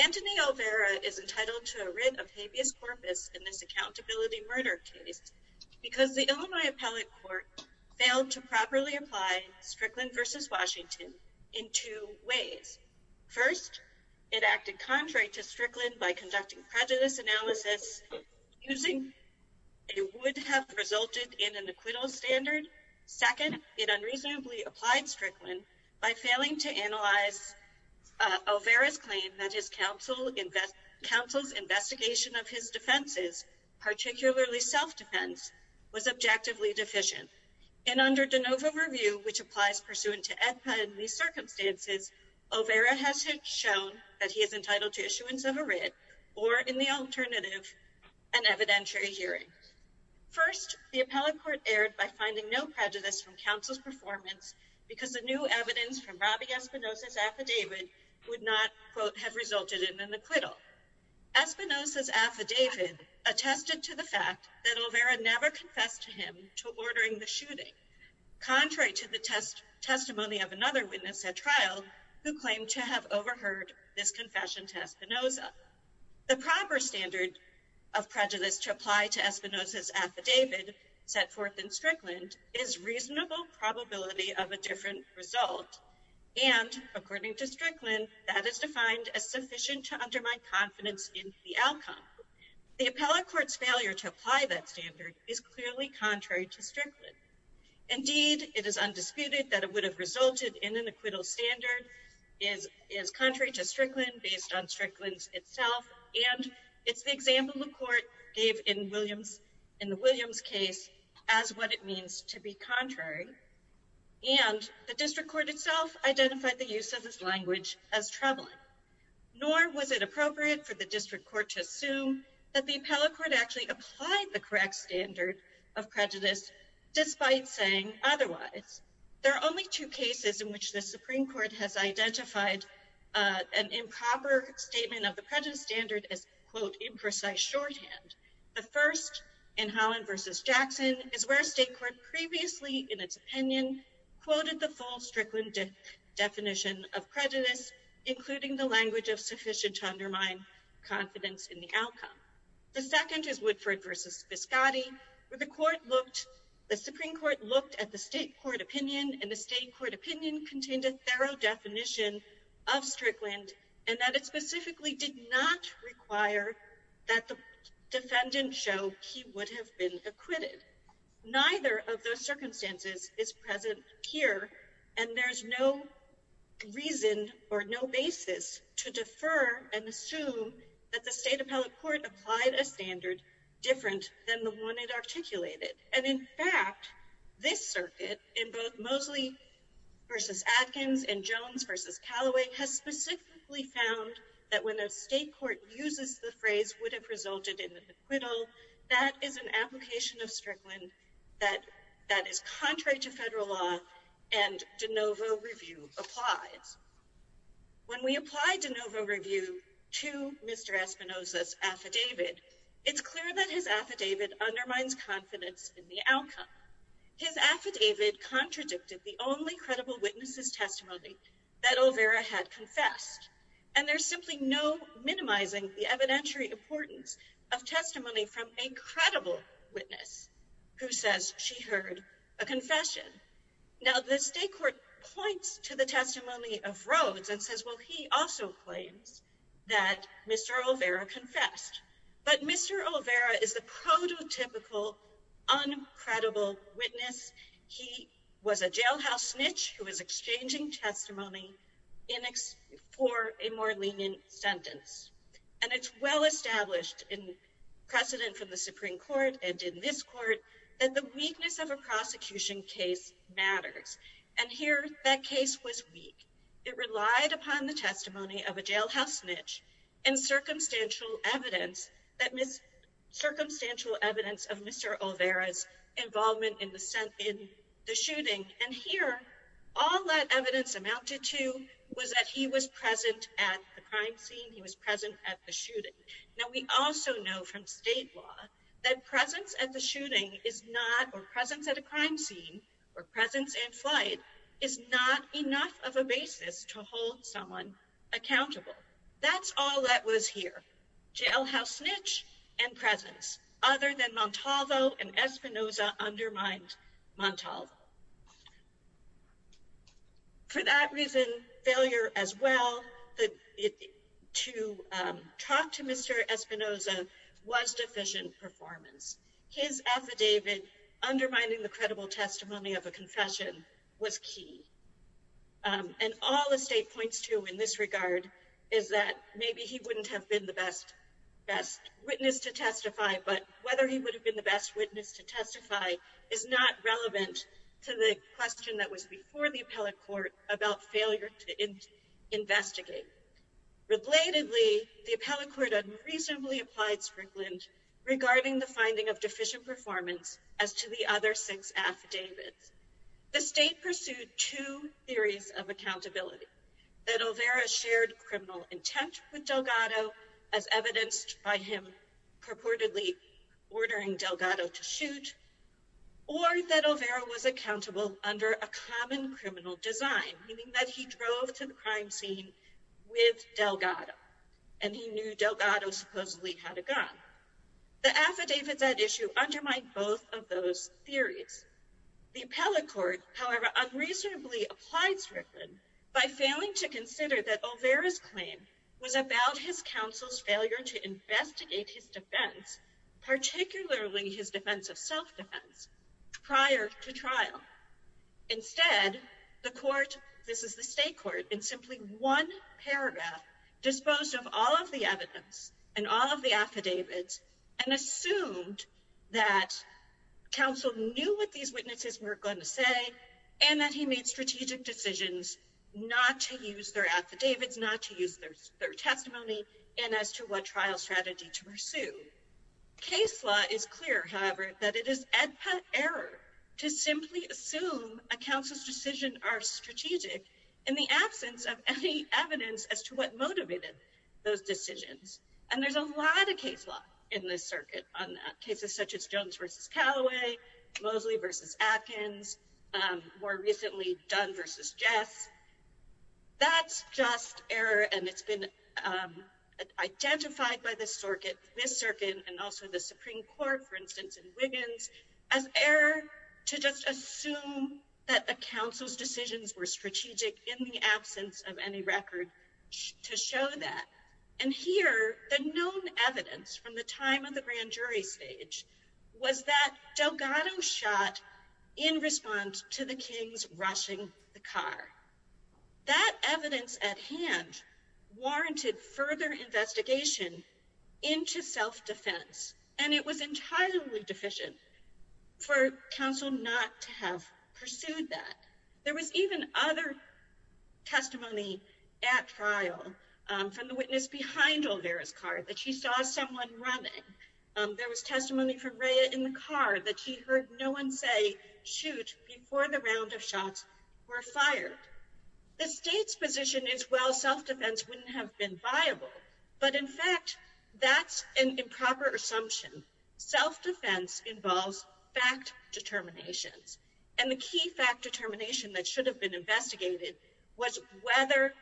Anthony Olvera is entitled to a writ of habeas corpus in this account to build a new university murder case because the Illinois Appellate Court failed to properly apply Strickland v. Washington in two ways. First, it acted contrary to Strickland by conducting prejudice analysis using a would-have-resulted-in-an-acquittal standard. Second, it unreasonably applied Strickland by failing to analyze Olvera's claim that his counsel's investigation of his defenses, particularly self-defense, was objectively deficient. And under de novo review, which applies pursuant to epidemic circumstances, Olvera has shown that he is entitled to issuance of a writ or, in the alternative, an evidentiary hearing. First, the Appellate Court erred by finding no prejudice from counsel's performance because the new evidence from Robby Espinoza's affidavit would not, quote, have resulted in an acquittal. Espinoza's affidavit attested to the fact that Olvera never confessed to him to ordering the shooting, contrary to the testimony of another witness at trial who claimed to have overheard this confession to Espinoza. The proper standard of prejudice to apply to Espinoza's affidavit set forth in Strickland is reasonable probability of a different result. And, according to Strickland, that is defined as sufficient to undermine confidence in the outcome. The Appellate Court's failure to apply that standard is clearly contrary to Strickland. Indeed, it is undisputed that it would have resulted in an acquittal standard is contrary to Strickland based on Strickland's itself, and it's the example the Court gave in the Williams case as what it means to be contrary. And the District Court itself identified the use of this language as troubling. Nor was it appropriate for the District Court to assume that the Appellate Court actually applied the correct standard of prejudice despite saying otherwise. There are only two cases in which the Supreme Court has identified an improper statement of the prejudice standard as, quote, imprecise shorthand. The first, in Holland v. Jackson, is where a state court previously, in its opinion, quoted the full Strickland definition of prejudice, including the language of sufficient to undermine confidence in the outcome. The second is Woodford v. Viscotti, where the Supreme Court looked at the state court opinion, and the state court opinion contained a thorough definition of Strickland, and that it specifically did not require that the defendant show he would have been acquitted. Neither of those circumstances is present here, and there's no reason or no basis to defer and assume that the State Appellate Court applied a standard different than the one it articulated. And in fact, this circuit, in both Mosley v. Atkins and Jones v. Calloway, has specifically found that when a state court uses the phrase would have resulted in an acquittal, that is an application of Strickland that is contrary to federal law and de novo review applies. When we apply de novo review to Mr. Espinoza's affidavit, it's clear that his affidavit undermines confidence in the outcome. His affidavit contradicted the only credible witness's testimony that Olvera had confessed, and there's simply no minimizing the evidentiary importance of testimony from a credible witness who says she heard a confession. Now, the state court points to the testimony of Rhodes and says, well, he also claims that Mr. Olvera confessed. But Mr. Olvera is the prototypical, uncredible witness. He was a jailhouse snitch who was exchanging testimony for a more lenient sentence. And it's well-established in precedent from the Supreme Court and in this court that the weakness of a prosecution case matters. And here, that case was weak. It relied upon the testimony of a jailhouse snitch and circumstantial evidence of Mr. Olvera's involvement in the shooting. And here, all that evidence amounted to was that he was present at the crime scene. He was present at the shooting. Now, we also know from state law that presence at the shooting is not, or presence at a crime scene or presence in flight, is not enough of a basis to hold someone accountable. That's all that was here. Jailhouse snitch and presence. Other than Montalvo and Espinoza undermined Montalvo. For that reason, failure as well to talk to Mr. Espinoza was deficient performance. His affidavit undermining the credible testimony of a confession was key. And all the state points to in this regard is that maybe he wouldn't have been the best witness to testify, but whether he would have been the best witness to testify is not relevant to the question that was before the appellate court about failure to investigate. Relatedly, the appellate court unreasonably applied sprinkling regarding the finding of deficient performance as to the other six affidavits. The state pursued two theories of accountability. That Olvera shared criminal intent with Delgado, as evidenced by him purportedly ordering Delgado to shoot, or that Olvera was accountable under a common criminal design, meaning that he drove to the crime scene with Delgado, and he knew Delgado supposedly had a gun. The affidavits at issue undermined both of those theories. The appellate court, however, unreasonably applied sprinkling by failing to consider that Olvera's claim was about his counsel's failure to investigate his defense, particularly his defense of self-defense, prior to trial. Instead, the court, this is the state court, in simply one paragraph, disposed of all of the evidence and all of the affidavits and assumed that counsel knew what these witnesses were going to say, and that he made strategic decisions not to use their affidavits, not to use their testimony, and as to what trial strategy to pursue. Case law is clear, however, that it is ad pet error to simply assume a counsel's decision are strategic in the absence of any evidence as to what motivated those decisions. And there's a lot of case law in this circuit on that, cases such as Jones v. Callaway, Mosley v. Atkins, more recently Dunn v. Jess. That's just error, and it's been identified by this circuit, this circuit, and also the Supreme Court, for instance, in Wiggins, as error to just assume that a counsel's decisions were strategic in the absence of any record to show that. And here, the known evidence from the time of the grand jury stage was that Delgado shot in response to the Kings rushing the car. That evidence at hand warranted further investigation into self-defense, and it was entirely deficient for counsel not to have pursued that. There was even other testimony at trial from the witness behind Olvera's car that she saw someone running. There was testimony from Rea in the car that she heard no one say, shoot, before the round of shots were fired. The state's position is, well, self-defense wouldn't have been viable, but in fact, that's an improper assumption. Self-defense involves fact determinations, and the key fact determination that should have been investigated was whether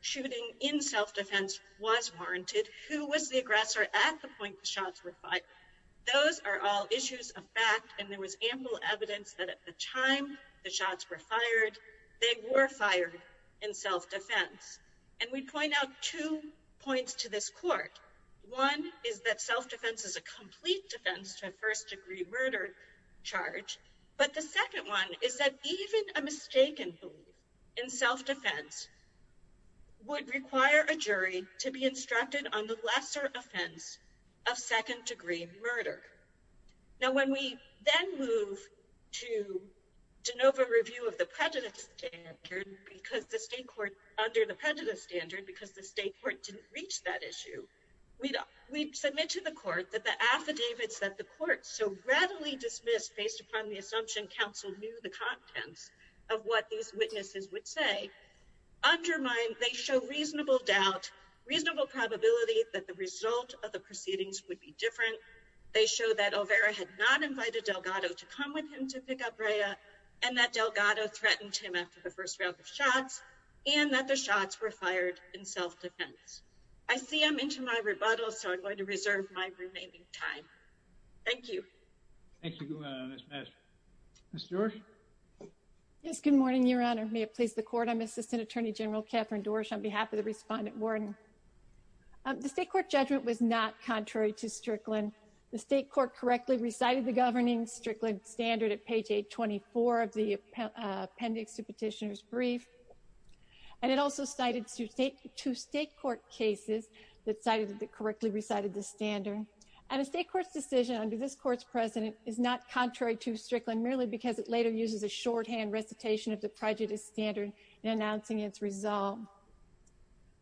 shooting in self-defense was warranted, who was the aggressor at the point the shots were fired. Those are all issues of fact, and there was ample evidence that at the time the shots were fired, they were fired in self-defense. And we point out two points to this court. One is that self-defense is a complete defense to a first-degree murder charge. But the second one is that even a mistaken belief in self-defense would require a jury to be instructed on the lesser offense of second-degree murder. Now, when we then move to de novo review of the prejudice standard, because the state court, under the prejudice standard, because the state court didn't reach that issue, we submit to the court that the affidavits that the court so readily dismissed based upon the assumption counsel knew the contents of what these witnesses would say, undermine, they show reasonable doubt, reasonable probability that the result of the proceedings would be different. They show that Olvera had not invited Delgado to come with him to pick up Rhea, and that Delgado threatened him after the first round of shots, and that the shots were fired in self-defense. I see I'm into my rebuttal, so I'm going to reserve my remaining time. Thank you. Thank you, Ms. Messer. Ms. George? Yes, good morning, Your Honor. May it please the Court, I'm Assistant Attorney General Kathryn Dorsch on behalf of the Respondent Warren. The state court judgment was not contrary to Strickland. The state court correctly recited the governing Strickland standard at page 824 of the appendix to Petitioner's Brief, and it also cited two state court cases that cited that correctly recited the standard. And a state court's decision under this Court's precedent is not contrary to Strickland merely because it later uses a shorthand recitation of the prejudice standard in announcing its resolve.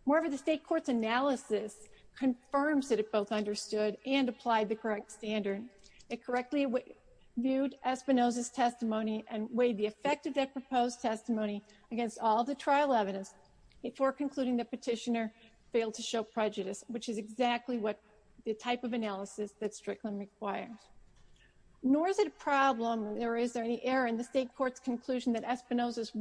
Moreover, the state court's analysis confirms that it both understood and applied the correct standard. It correctly viewed Espinoza's testimony and weighed the effect of that proposed testimony against all of the trial evidence, before concluding that Petitioner failed to show prejudice, which is exactly the type of analysis that Strickland requires. Nor is it a problem or is there any error in the state court's conclusion that Espinoza's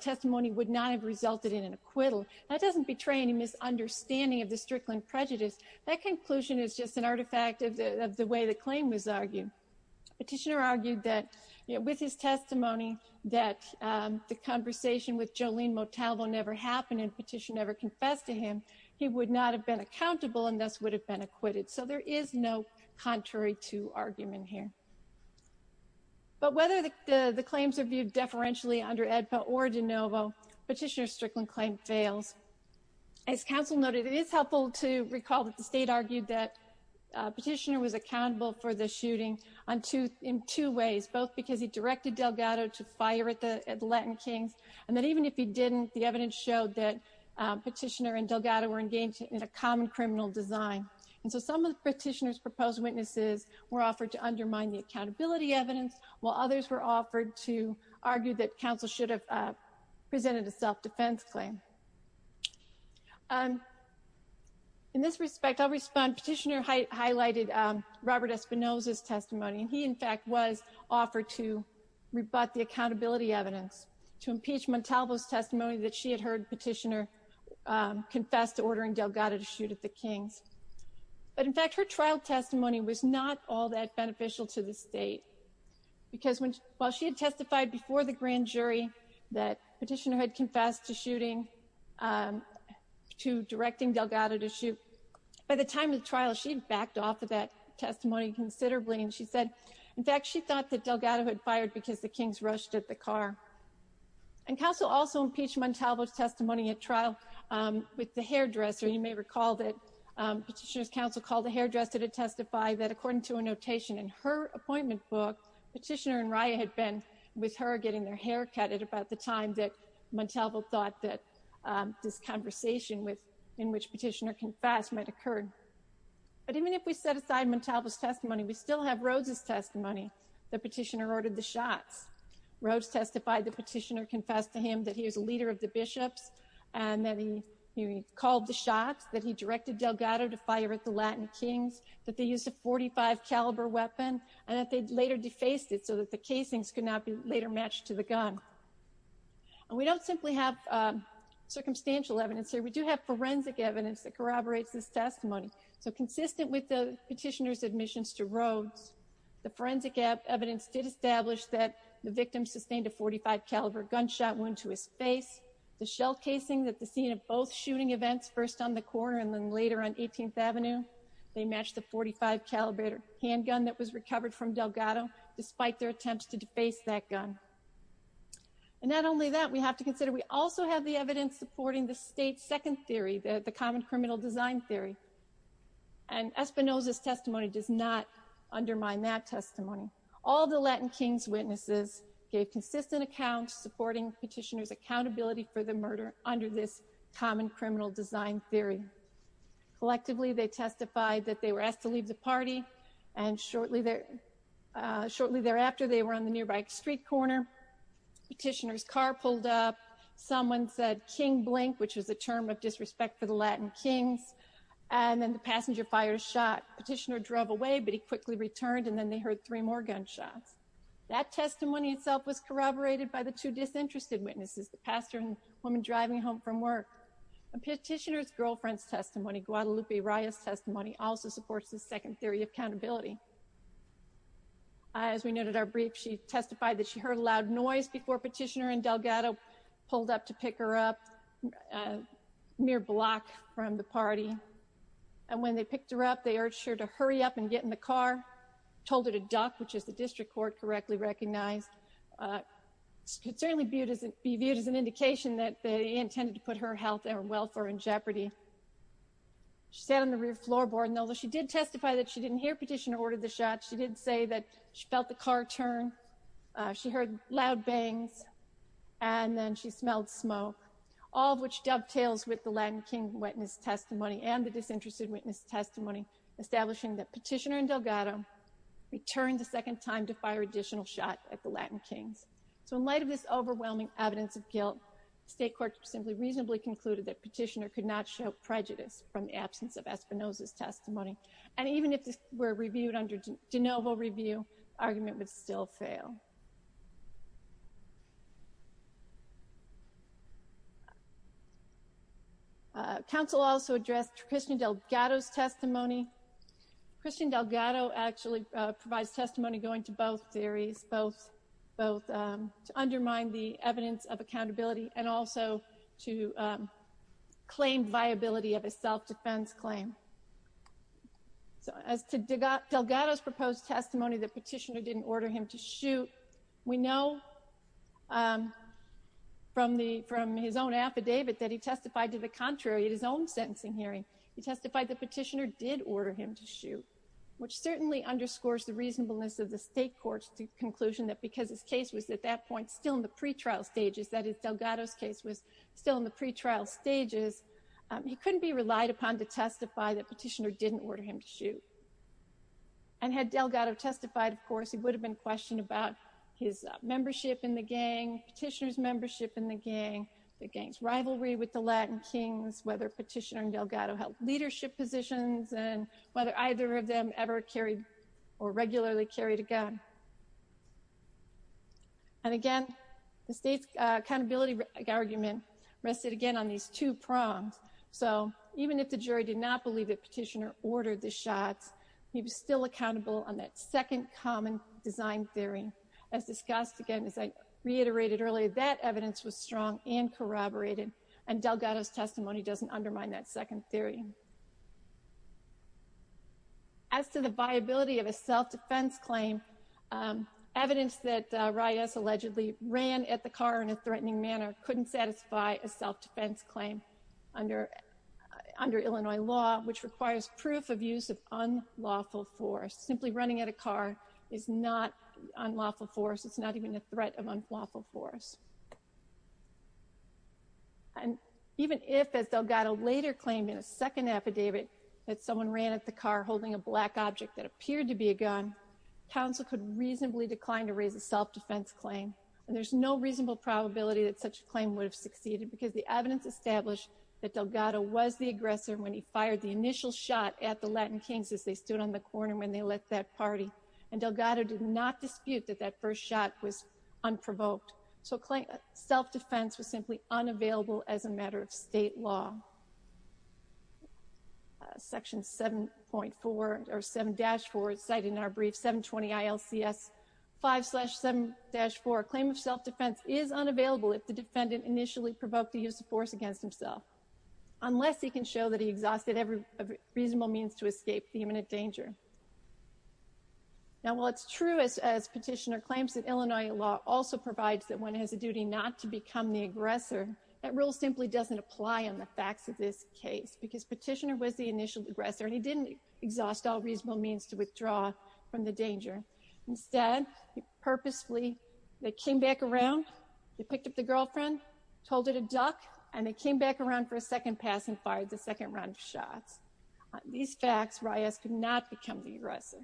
testimony would not have resulted in an acquittal. That doesn't betray any misunderstanding of the Strickland prejudice. That conclusion is just an artifact of the way the claim was argued. Petitioner argued that with his testimony that the conversation with Jolene Motalvo never happened and Petitioner never confessed to him, he would not have been accountable and thus would have been acquitted. So there is no contrary to argument here. But whether the claims are viewed deferentially under AEDPA or de novo, Petitioner's Strickland claim fails. As counsel noted, it is helpful to recall that the state argued that Petitioner was accountable for the shooting in two ways, both because he directed Delgado to fire at the Latin Kings, and that even if he didn't, the evidence showed that Petitioner and Delgado were engaged in a common criminal design. And so some of Petitioner's proposed witnesses were offered to undermine the accountability evidence, while others were offered to argue that counsel should have presented a self-defense claim. In this respect, I'll respond. Petitioner highlighted Robert Espinosa's testimony, and he, in fact, was offered to rebut the accountability evidence, to impeach Motalvo's testimony that she had heard Petitioner confess to ordering Delgado to shoot at the Kings. But, in fact, her trial testimony was not all that beneficial to the state, because while she had testified before the grand jury that Petitioner had confessed to shooting, to directing Delgado to shoot, by the time of the trial, she had backed off of that testimony considerably, and she said, in fact, she thought that Delgado had fired because the Kings rushed at the car. And counsel also impeached Motalvo's testimony at trial with the hairdresser. You may recall that Petitioner's counsel called the hairdresser to testify that, according to a notation in her appointment book, Petitioner and Raya had been with her getting their hair cut at about the time that Motalvo thought that this conversation in which Petitioner confessed might occur. But even if we set aside Motalvo's testimony, we still have Rhodes' testimony that Petitioner ordered the shots. Rhodes testified that Petitioner confessed to him that he was a leader of the bishops, and that he called the shots, that he directed Delgado to fire at the Latin Kings, that they used a .45-caliber weapon, and that they later defaced it so that the casings could not be later matched to the gun. And we don't simply have circumstantial evidence here. We do have forensic evidence that corroborates this testimony. So consistent with the Petitioner's admissions to Rhodes, the forensic evidence did establish that the victim sustained a .45-caliber gunshot wound to his face. The shell casing at the scene of both shooting events, first on the corner and then later on 18th Avenue, they matched the .45-caliber handgun that was recovered from Delgado, despite their attempts to deface that gun. And not only that, we have to consider we also have the evidence supporting the state's second theory, the common criminal design theory. And Espinoza's testimony does not undermine that testimony. All the Latin Kings' witnesses gave consistent accounts supporting Petitioner's accountability for the murder under this common criminal design theory. Collectively, they testified that they were asked to leave the party, and shortly thereafter, they were on the nearby street corner. Petitioner's car pulled up. Someone said, King Blink, which was a term of disrespect for the Latin Kings, and then the passenger fired a shot. Petitioner drove away, but he quickly returned, and then they heard three more gunshots. That testimony itself was corroborated by the two disinterested witnesses, the pastor and the woman driving home from work. And Petitioner's girlfriend's testimony, Guadalupe Araya's testimony, also supports the second theory of accountability. As we noted in our brief, she testified that she heard a loud noise before Petitioner and Delgado pulled up to pick her up a mere block from the party. And when they picked her up, they urged her to hurry up and get in the car, told her to duck, which is the district court correctly recognized. It could certainly be viewed as an indication that they intended to put her health and welfare in jeopardy. She sat on the rear floorboard, and although she did testify that she didn't hear Petitioner order the shots, she did say that she felt the car turn, she heard loud bangs, and then she smelled smoke, all of which dovetails with the Latin King witness testimony and the disinterested witness testimony, establishing that Petitioner and Delgado returned a second time to fire additional shots at the Latin Kings. So in light of this overwhelming evidence of guilt, the state court simply reasonably concluded that Petitioner could not show prejudice And even if this were reviewed under de novo review, the argument would still fail. Counsel also addressed Christian Delgado's testimony. Christian Delgado actually provides testimony going to both theories, both to undermine the evidence of accountability and also to claim viability of a self-defense claim. So as to Delgado's proposed testimony that Petitioner didn't order him to shoot, we know from his own affidavit that he testified to the contrary in his own sentencing hearing. He testified that Petitioner did order him to shoot, which certainly underscores the reasonableness of the state court's conclusion that because his case was at that point still in the pretrial stages, that is, Delgado's case was still in the pretrial stages, he couldn't be relied upon to testify that Petitioner didn't order him to shoot. And had Delgado testified, of course, he would have been questioned about his membership in the gang, Petitioner's membership in the gang, the gang's rivalry with the Latin Kings, whether Petitioner and Delgado held leadership positions, and whether either of them ever carried or regularly carried a gun. And again, the state's accountability argument rested again on these two prongs. So even if the jury did not believe that Petitioner ordered the shots, he was still accountable on that second common design theory. As discussed again, as I reiterated earlier, that evidence was strong and corroborated, and Delgado's testimony doesn't undermine that second theory. As to the viability of a self-defense claim, evidence that Reyes allegedly ran at the car in a threatening manner couldn't satisfy a self-defense claim under Illinois law, which requires proof of use of unlawful force. Simply running at a car is not unlawful force. It's not even a threat of unlawful force. And even if, as Delgado later claimed in a second affidavit, that someone ran at the car holding a black object that appeared to be a gun, counsel could reasonably decline to raise a self-defense claim. And there's no reasonable probability that such a claim would have succeeded because the evidence established that Delgado was the aggressor when he fired the initial shot at the Latin Kings as they stood on the corner when they left that party. And Delgado did not dispute that that first shot was unprovoked. So self-defense was simply unavailable as a matter of state law. Section 7.4, or 7-4, cited in our brief, 720 ILCS 5-7-4, a claim of self-defense is unavailable if the defendant initially provoked the use of force against himself, unless he can show that he exhausted every reasonable means to escape the imminent danger. Now, while it's true, as Petitioner claims, that Illinois law also provides that one has a duty not to become the aggressor, that rule simply doesn't apply on the facts of this case because Petitioner was the initial aggressor, and he didn't exhaust all reasonable means to withdraw from the danger. Instead, he purposefully came back around, he picked up the girlfriend, told her to duck, and then came back around for a second pass and fired the second round of shots. On these facts, Reyes could not become the aggressor.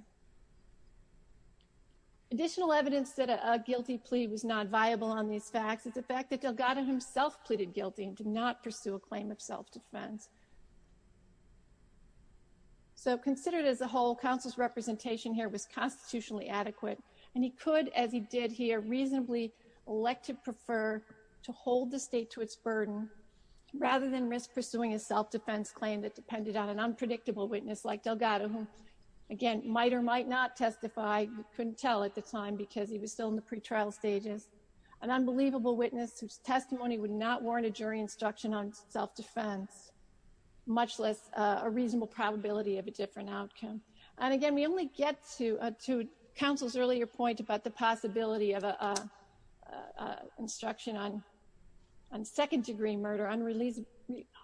Additional evidence that a guilty plea was not viable on these facts is the fact that Delgado himself pleaded guilty and did not pursue a claim of self-defense. So considered as a whole, counsel's representation here was constitutionally adequate, and he could, as he did here, reasonably elect to prefer to hold the state to its burden rather than risk pursuing a self-defense claim that depended on an unpredictable witness like Delgado, who, again, might or might not testify. He couldn't tell at the time because he was still in the pretrial stages. An unbelievable witness whose testimony would not warrant a jury instruction on self-defense, much less a reasonable probability of a different outcome. And again, we only get to counsel's earlier point about the possibility of an instruction on second-degree murder,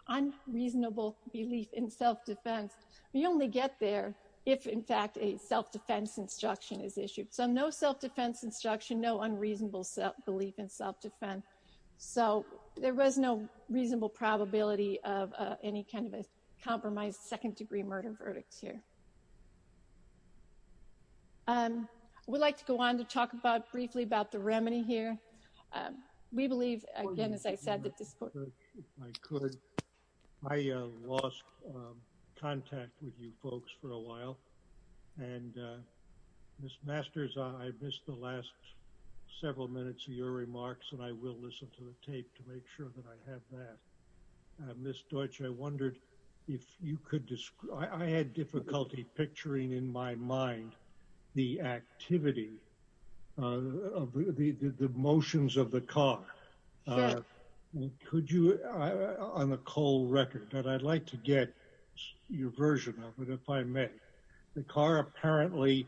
unreasonable belief in self-defense. We only get there if, in fact, a self-defense instruction is issued. So no self-defense instruction, no unreasonable belief in self-defense. So there was no reasonable probability of any kind of a compromised second-degree murder verdict here. I would like to go on to talk briefly about the remedy here. We believe, again, as I said, that this court— If I could, I lost contact with you folks for a while. And, Ms. Masters, I missed the last several minutes of your remarks, and I will listen to the tape to make sure that I have that. Ms. Deutsch, I wondered if you could— I had difficulty picturing in my mind the activity of the motions of the car. Could you, on the cold record, but I'd like to get your version of it if I may. The car apparently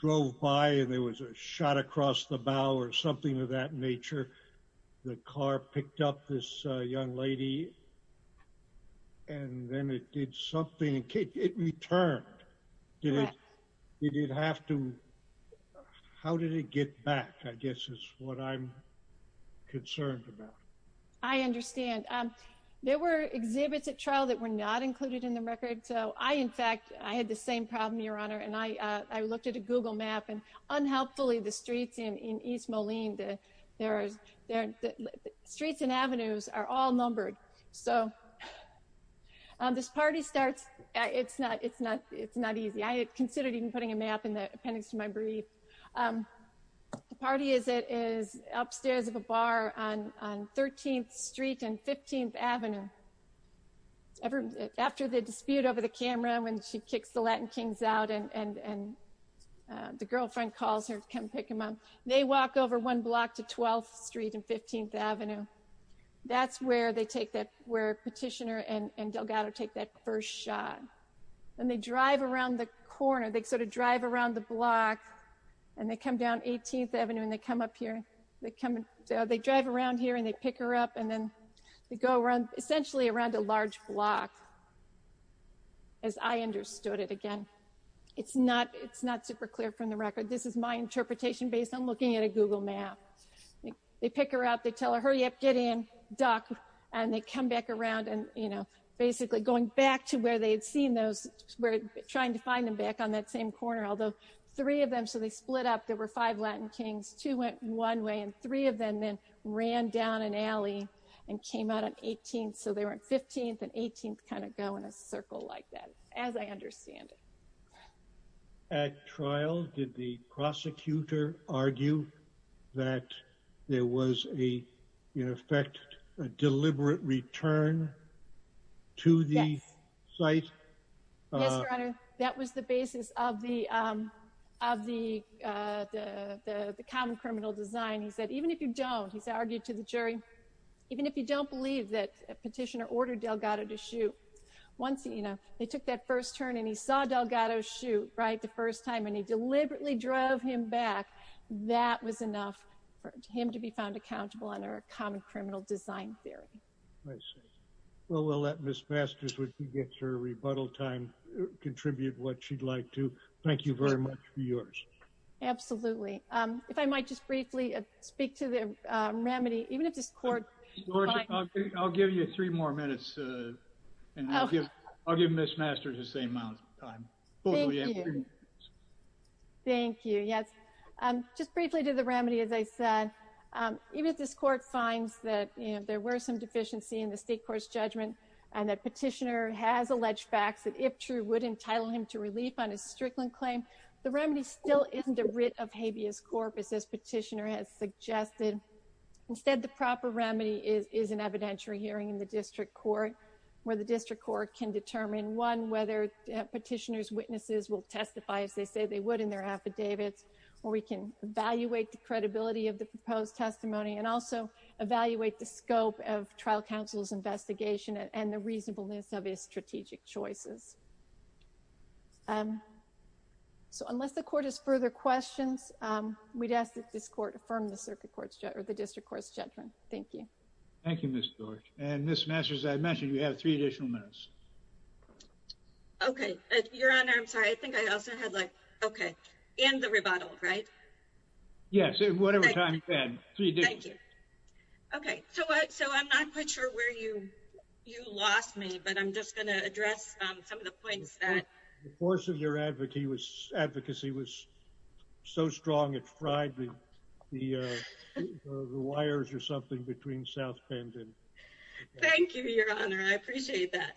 drove by, and there was a shot across the bow or something of that nature. The car picked up this young lady, and then it did something. It returned. Correct. Did it have to—How did it get back, I guess, is what I'm concerned about. I understand. There were exhibits at trial that were not included in the record. So I, in fact, I had the same problem, Your Honor, and I looked at a Google map, and unhelpfully, the streets in East Moline, the streets and avenues are all numbered. So this party starts—It's not easy. I had considered even putting a map in the appendix to my brief. The party is upstairs of a bar on 13th Street and 15th Avenue. After the dispute over the camera when she kicks the Latin kings out and the girlfriend calls her to come pick him up, they walk over one block to 12th Street and 15th Avenue. That's where Petitioner and Delgado take that first shot. Then they drive around the corner. They sort of drive around the block, and they come down 18th Avenue, and they come up here. They drive around here, and they pick her up, and then they go around essentially around a large block, as I understood it. Again, it's not super clear from the record. This is my interpretation based on looking at a Google map. They pick her up. They tell her, hurry up, get in, duck, and they come back around and basically going back to where they had seen those, trying to find them back on that same corner, although three of them— so they split up. There were five Latin kings. Two went one way, and three of them then ran down an alley and came out on 18th. So they were on 15th and 18th, kind of going in a circle like that, as I understand it. At trial, did the prosecutor argue that there was, in effect, a deliberate return to the site? Yes, Your Honor. That was the basis of the common criminal design. He said, even if you don't, he argued to the jury, even if you don't believe that a petitioner ordered Delgado to shoot, once, you know, they took that first turn and he saw Delgado shoot, right, the first time, and he deliberately drove him back, that was enough for him to be found accountable under a common criminal design theory. I see. Well, we'll let Ms. Masters, when she gets her rebuttal time, contribute what she'd like to. Thank you very much for yours. Absolutely. If I might just briefly speak to the remedy, even if this court— I'll give you three more minutes, and I'll give Ms. Masters the same amount of time. Thank you. Thank you, yes. Just briefly to the remedy, as I said, even if this court finds that there were some deficiency in the state court's judgment and that petitioner has alleged facts that, if true, would entitle him to relief on his Strickland claim, the remedy still isn't a writ of habeas corpus, as petitioner has suggested. Instead, the proper remedy is an evidentiary hearing in the district court where the district court can determine, one, whether petitioner's witnesses will testify as they say they would in their affidavits, or we can evaluate the credibility of the proposed testimony and also evaluate the scope of trial counsel's investigation and the reasonableness of his strategic choices. So unless the court has further questions, we'd ask that this court affirm the district court's judgment. Thank you. Thank you, Ms. George. And Ms. Masters, as I mentioned, you have three additional minutes. Okay. Your Honor, I'm sorry, I think I also had like— Okay. And the rebuttal, right? Yes, whatever time you had. Thank you. Okay. So I'm not quite sure where you lost me, but I'm just going to address some of the points that— The force of your advocacy was so strong, it fried the wires or something between South Bend and— Thank you, Your Honor. I appreciate that.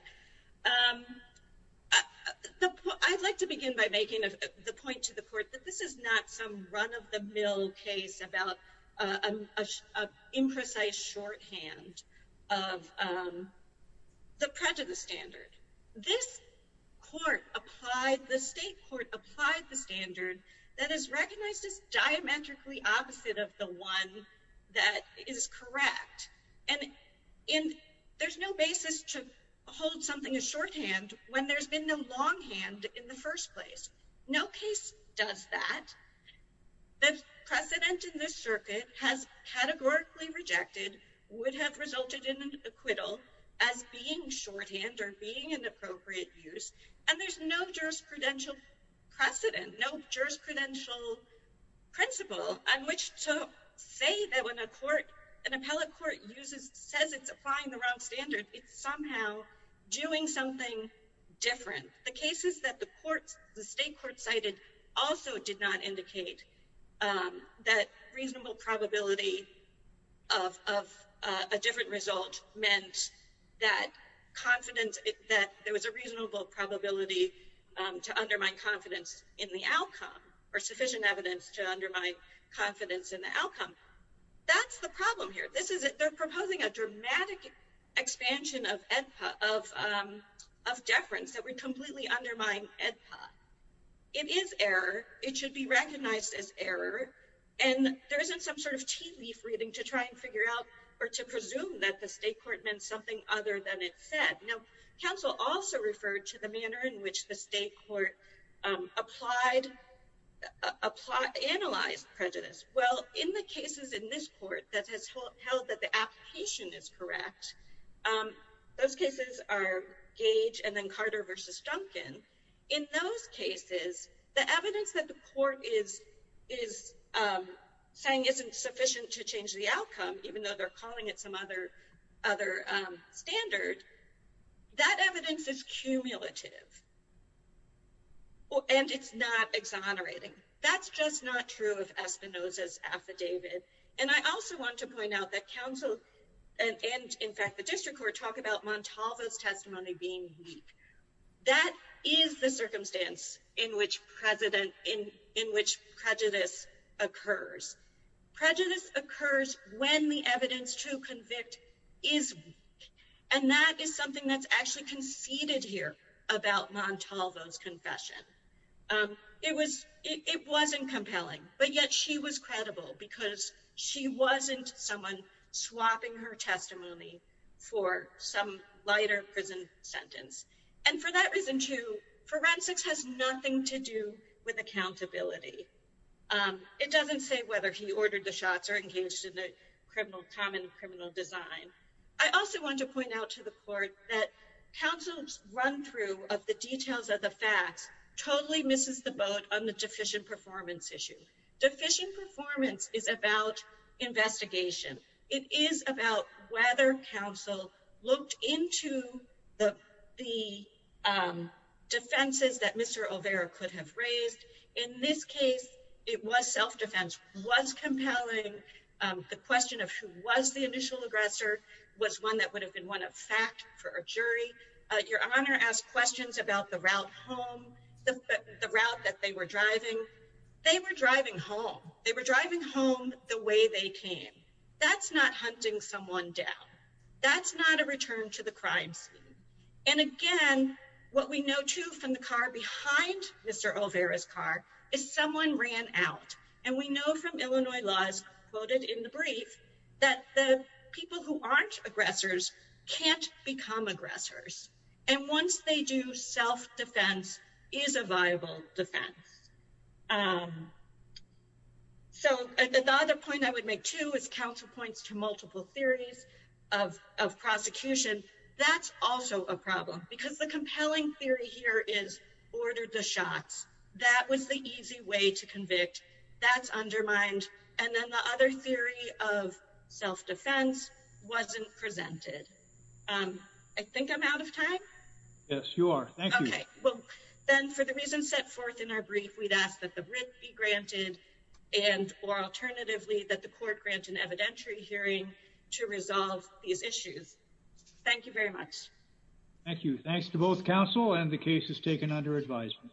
I'd like to begin by making the point to the court that this is not some run-of-the-mill case about an imprecise shorthand of the prejudice standard. This court applied— The state court applied the standard that is recognized as diametrically opposite of the one that is correct. And there's no basis to hold something as shorthand when there's been no longhand in the first place. No case does that. The precedent in this circuit has categorically rejected, would have resulted in an acquittal, as being shorthand or being an appropriate use. And there's no jurisprudential precedent, no jurisprudential principle on which to say that when an appellate court says it's applying the wrong standard, it's somehow doing something different. The cases that the state court cited also did not indicate that reasonable probability of a different result meant that confidence— that there was a reasonable probability to undermine confidence in the outcome or sufficient evidence to undermine confidence in the outcome. That's the problem here. They're proposing a dramatic expansion of deference that would completely undermine AEDPA. It is error. It should be recognized as error. And there isn't some sort of tea leaf reading to try and figure out or to presume that the state court meant something other than it said. Now, counsel also referred to the manner in which the state court applied—analyzed prejudice. Well, in the cases in this court that has held that the application is correct, those cases are Gage and then Carter v. Duncan. In those cases, the evidence that the court is saying isn't sufficient to change the outcome, even though they're calling it some other standard, that evidence is cumulative. And it's not exonerating. That's just not true of Espinoza's affidavit. And I also want to point out that counsel and, in fact, the district court, talk about Montalva's testimony being weak. That is the circumstance in which prejudice occurs. Prejudice occurs when the evidence to convict is weak. And that is something that's actually conceded here about Montalva's confession. It wasn't compelling, but yet she was credible because she wasn't someone swapping her testimony for some lighter prison sentence. And for that reason, too, forensics has nothing to do with accountability. It doesn't say whether he ordered the shots or engaged in a common criminal design. I also want to point out to the court that counsel's run-through of the details of the facts totally misses the boat on the deficient performance issue. Deficient performance is about investigation. It is about whether counsel looked into the defenses that Mr. Olvera could have raised. In this case, it was self-defense. It was compelling. The question of who was the initial aggressor was one that would have been one of fact for a jury. Your Honor asked questions about the route home, the route that they were driving. They were driving home. They were driving home the way they came. That's not hunting someone down. That's not a return to the crime scene. And again, what we know, too, from the car behind Mr. Olvera's car is someone ran out. And we know from Illinois laws quoted in the brief that the people who aren't aggressors can't become aggressors. And once they do, self-defense is a viable defense. So the other point I would make, too, is counsel points to multiple theories of prosecution. That's also a problem, because the compelling theory here is ordered the shots. That was the easy way to convict. That's undermined. And then the other theory of self-defense wasn't presented. I think I'm out of time? Yes, you are. Thank you. Okay. Well, then, for the reasons set forth in our brief, we'd ask that the writ be granted and, or alternatively, that the court grant an evidentiary hearing to resolve these issues. Thank you very much. Thank you. Thanks to both counsel, and the case is taken under advisement.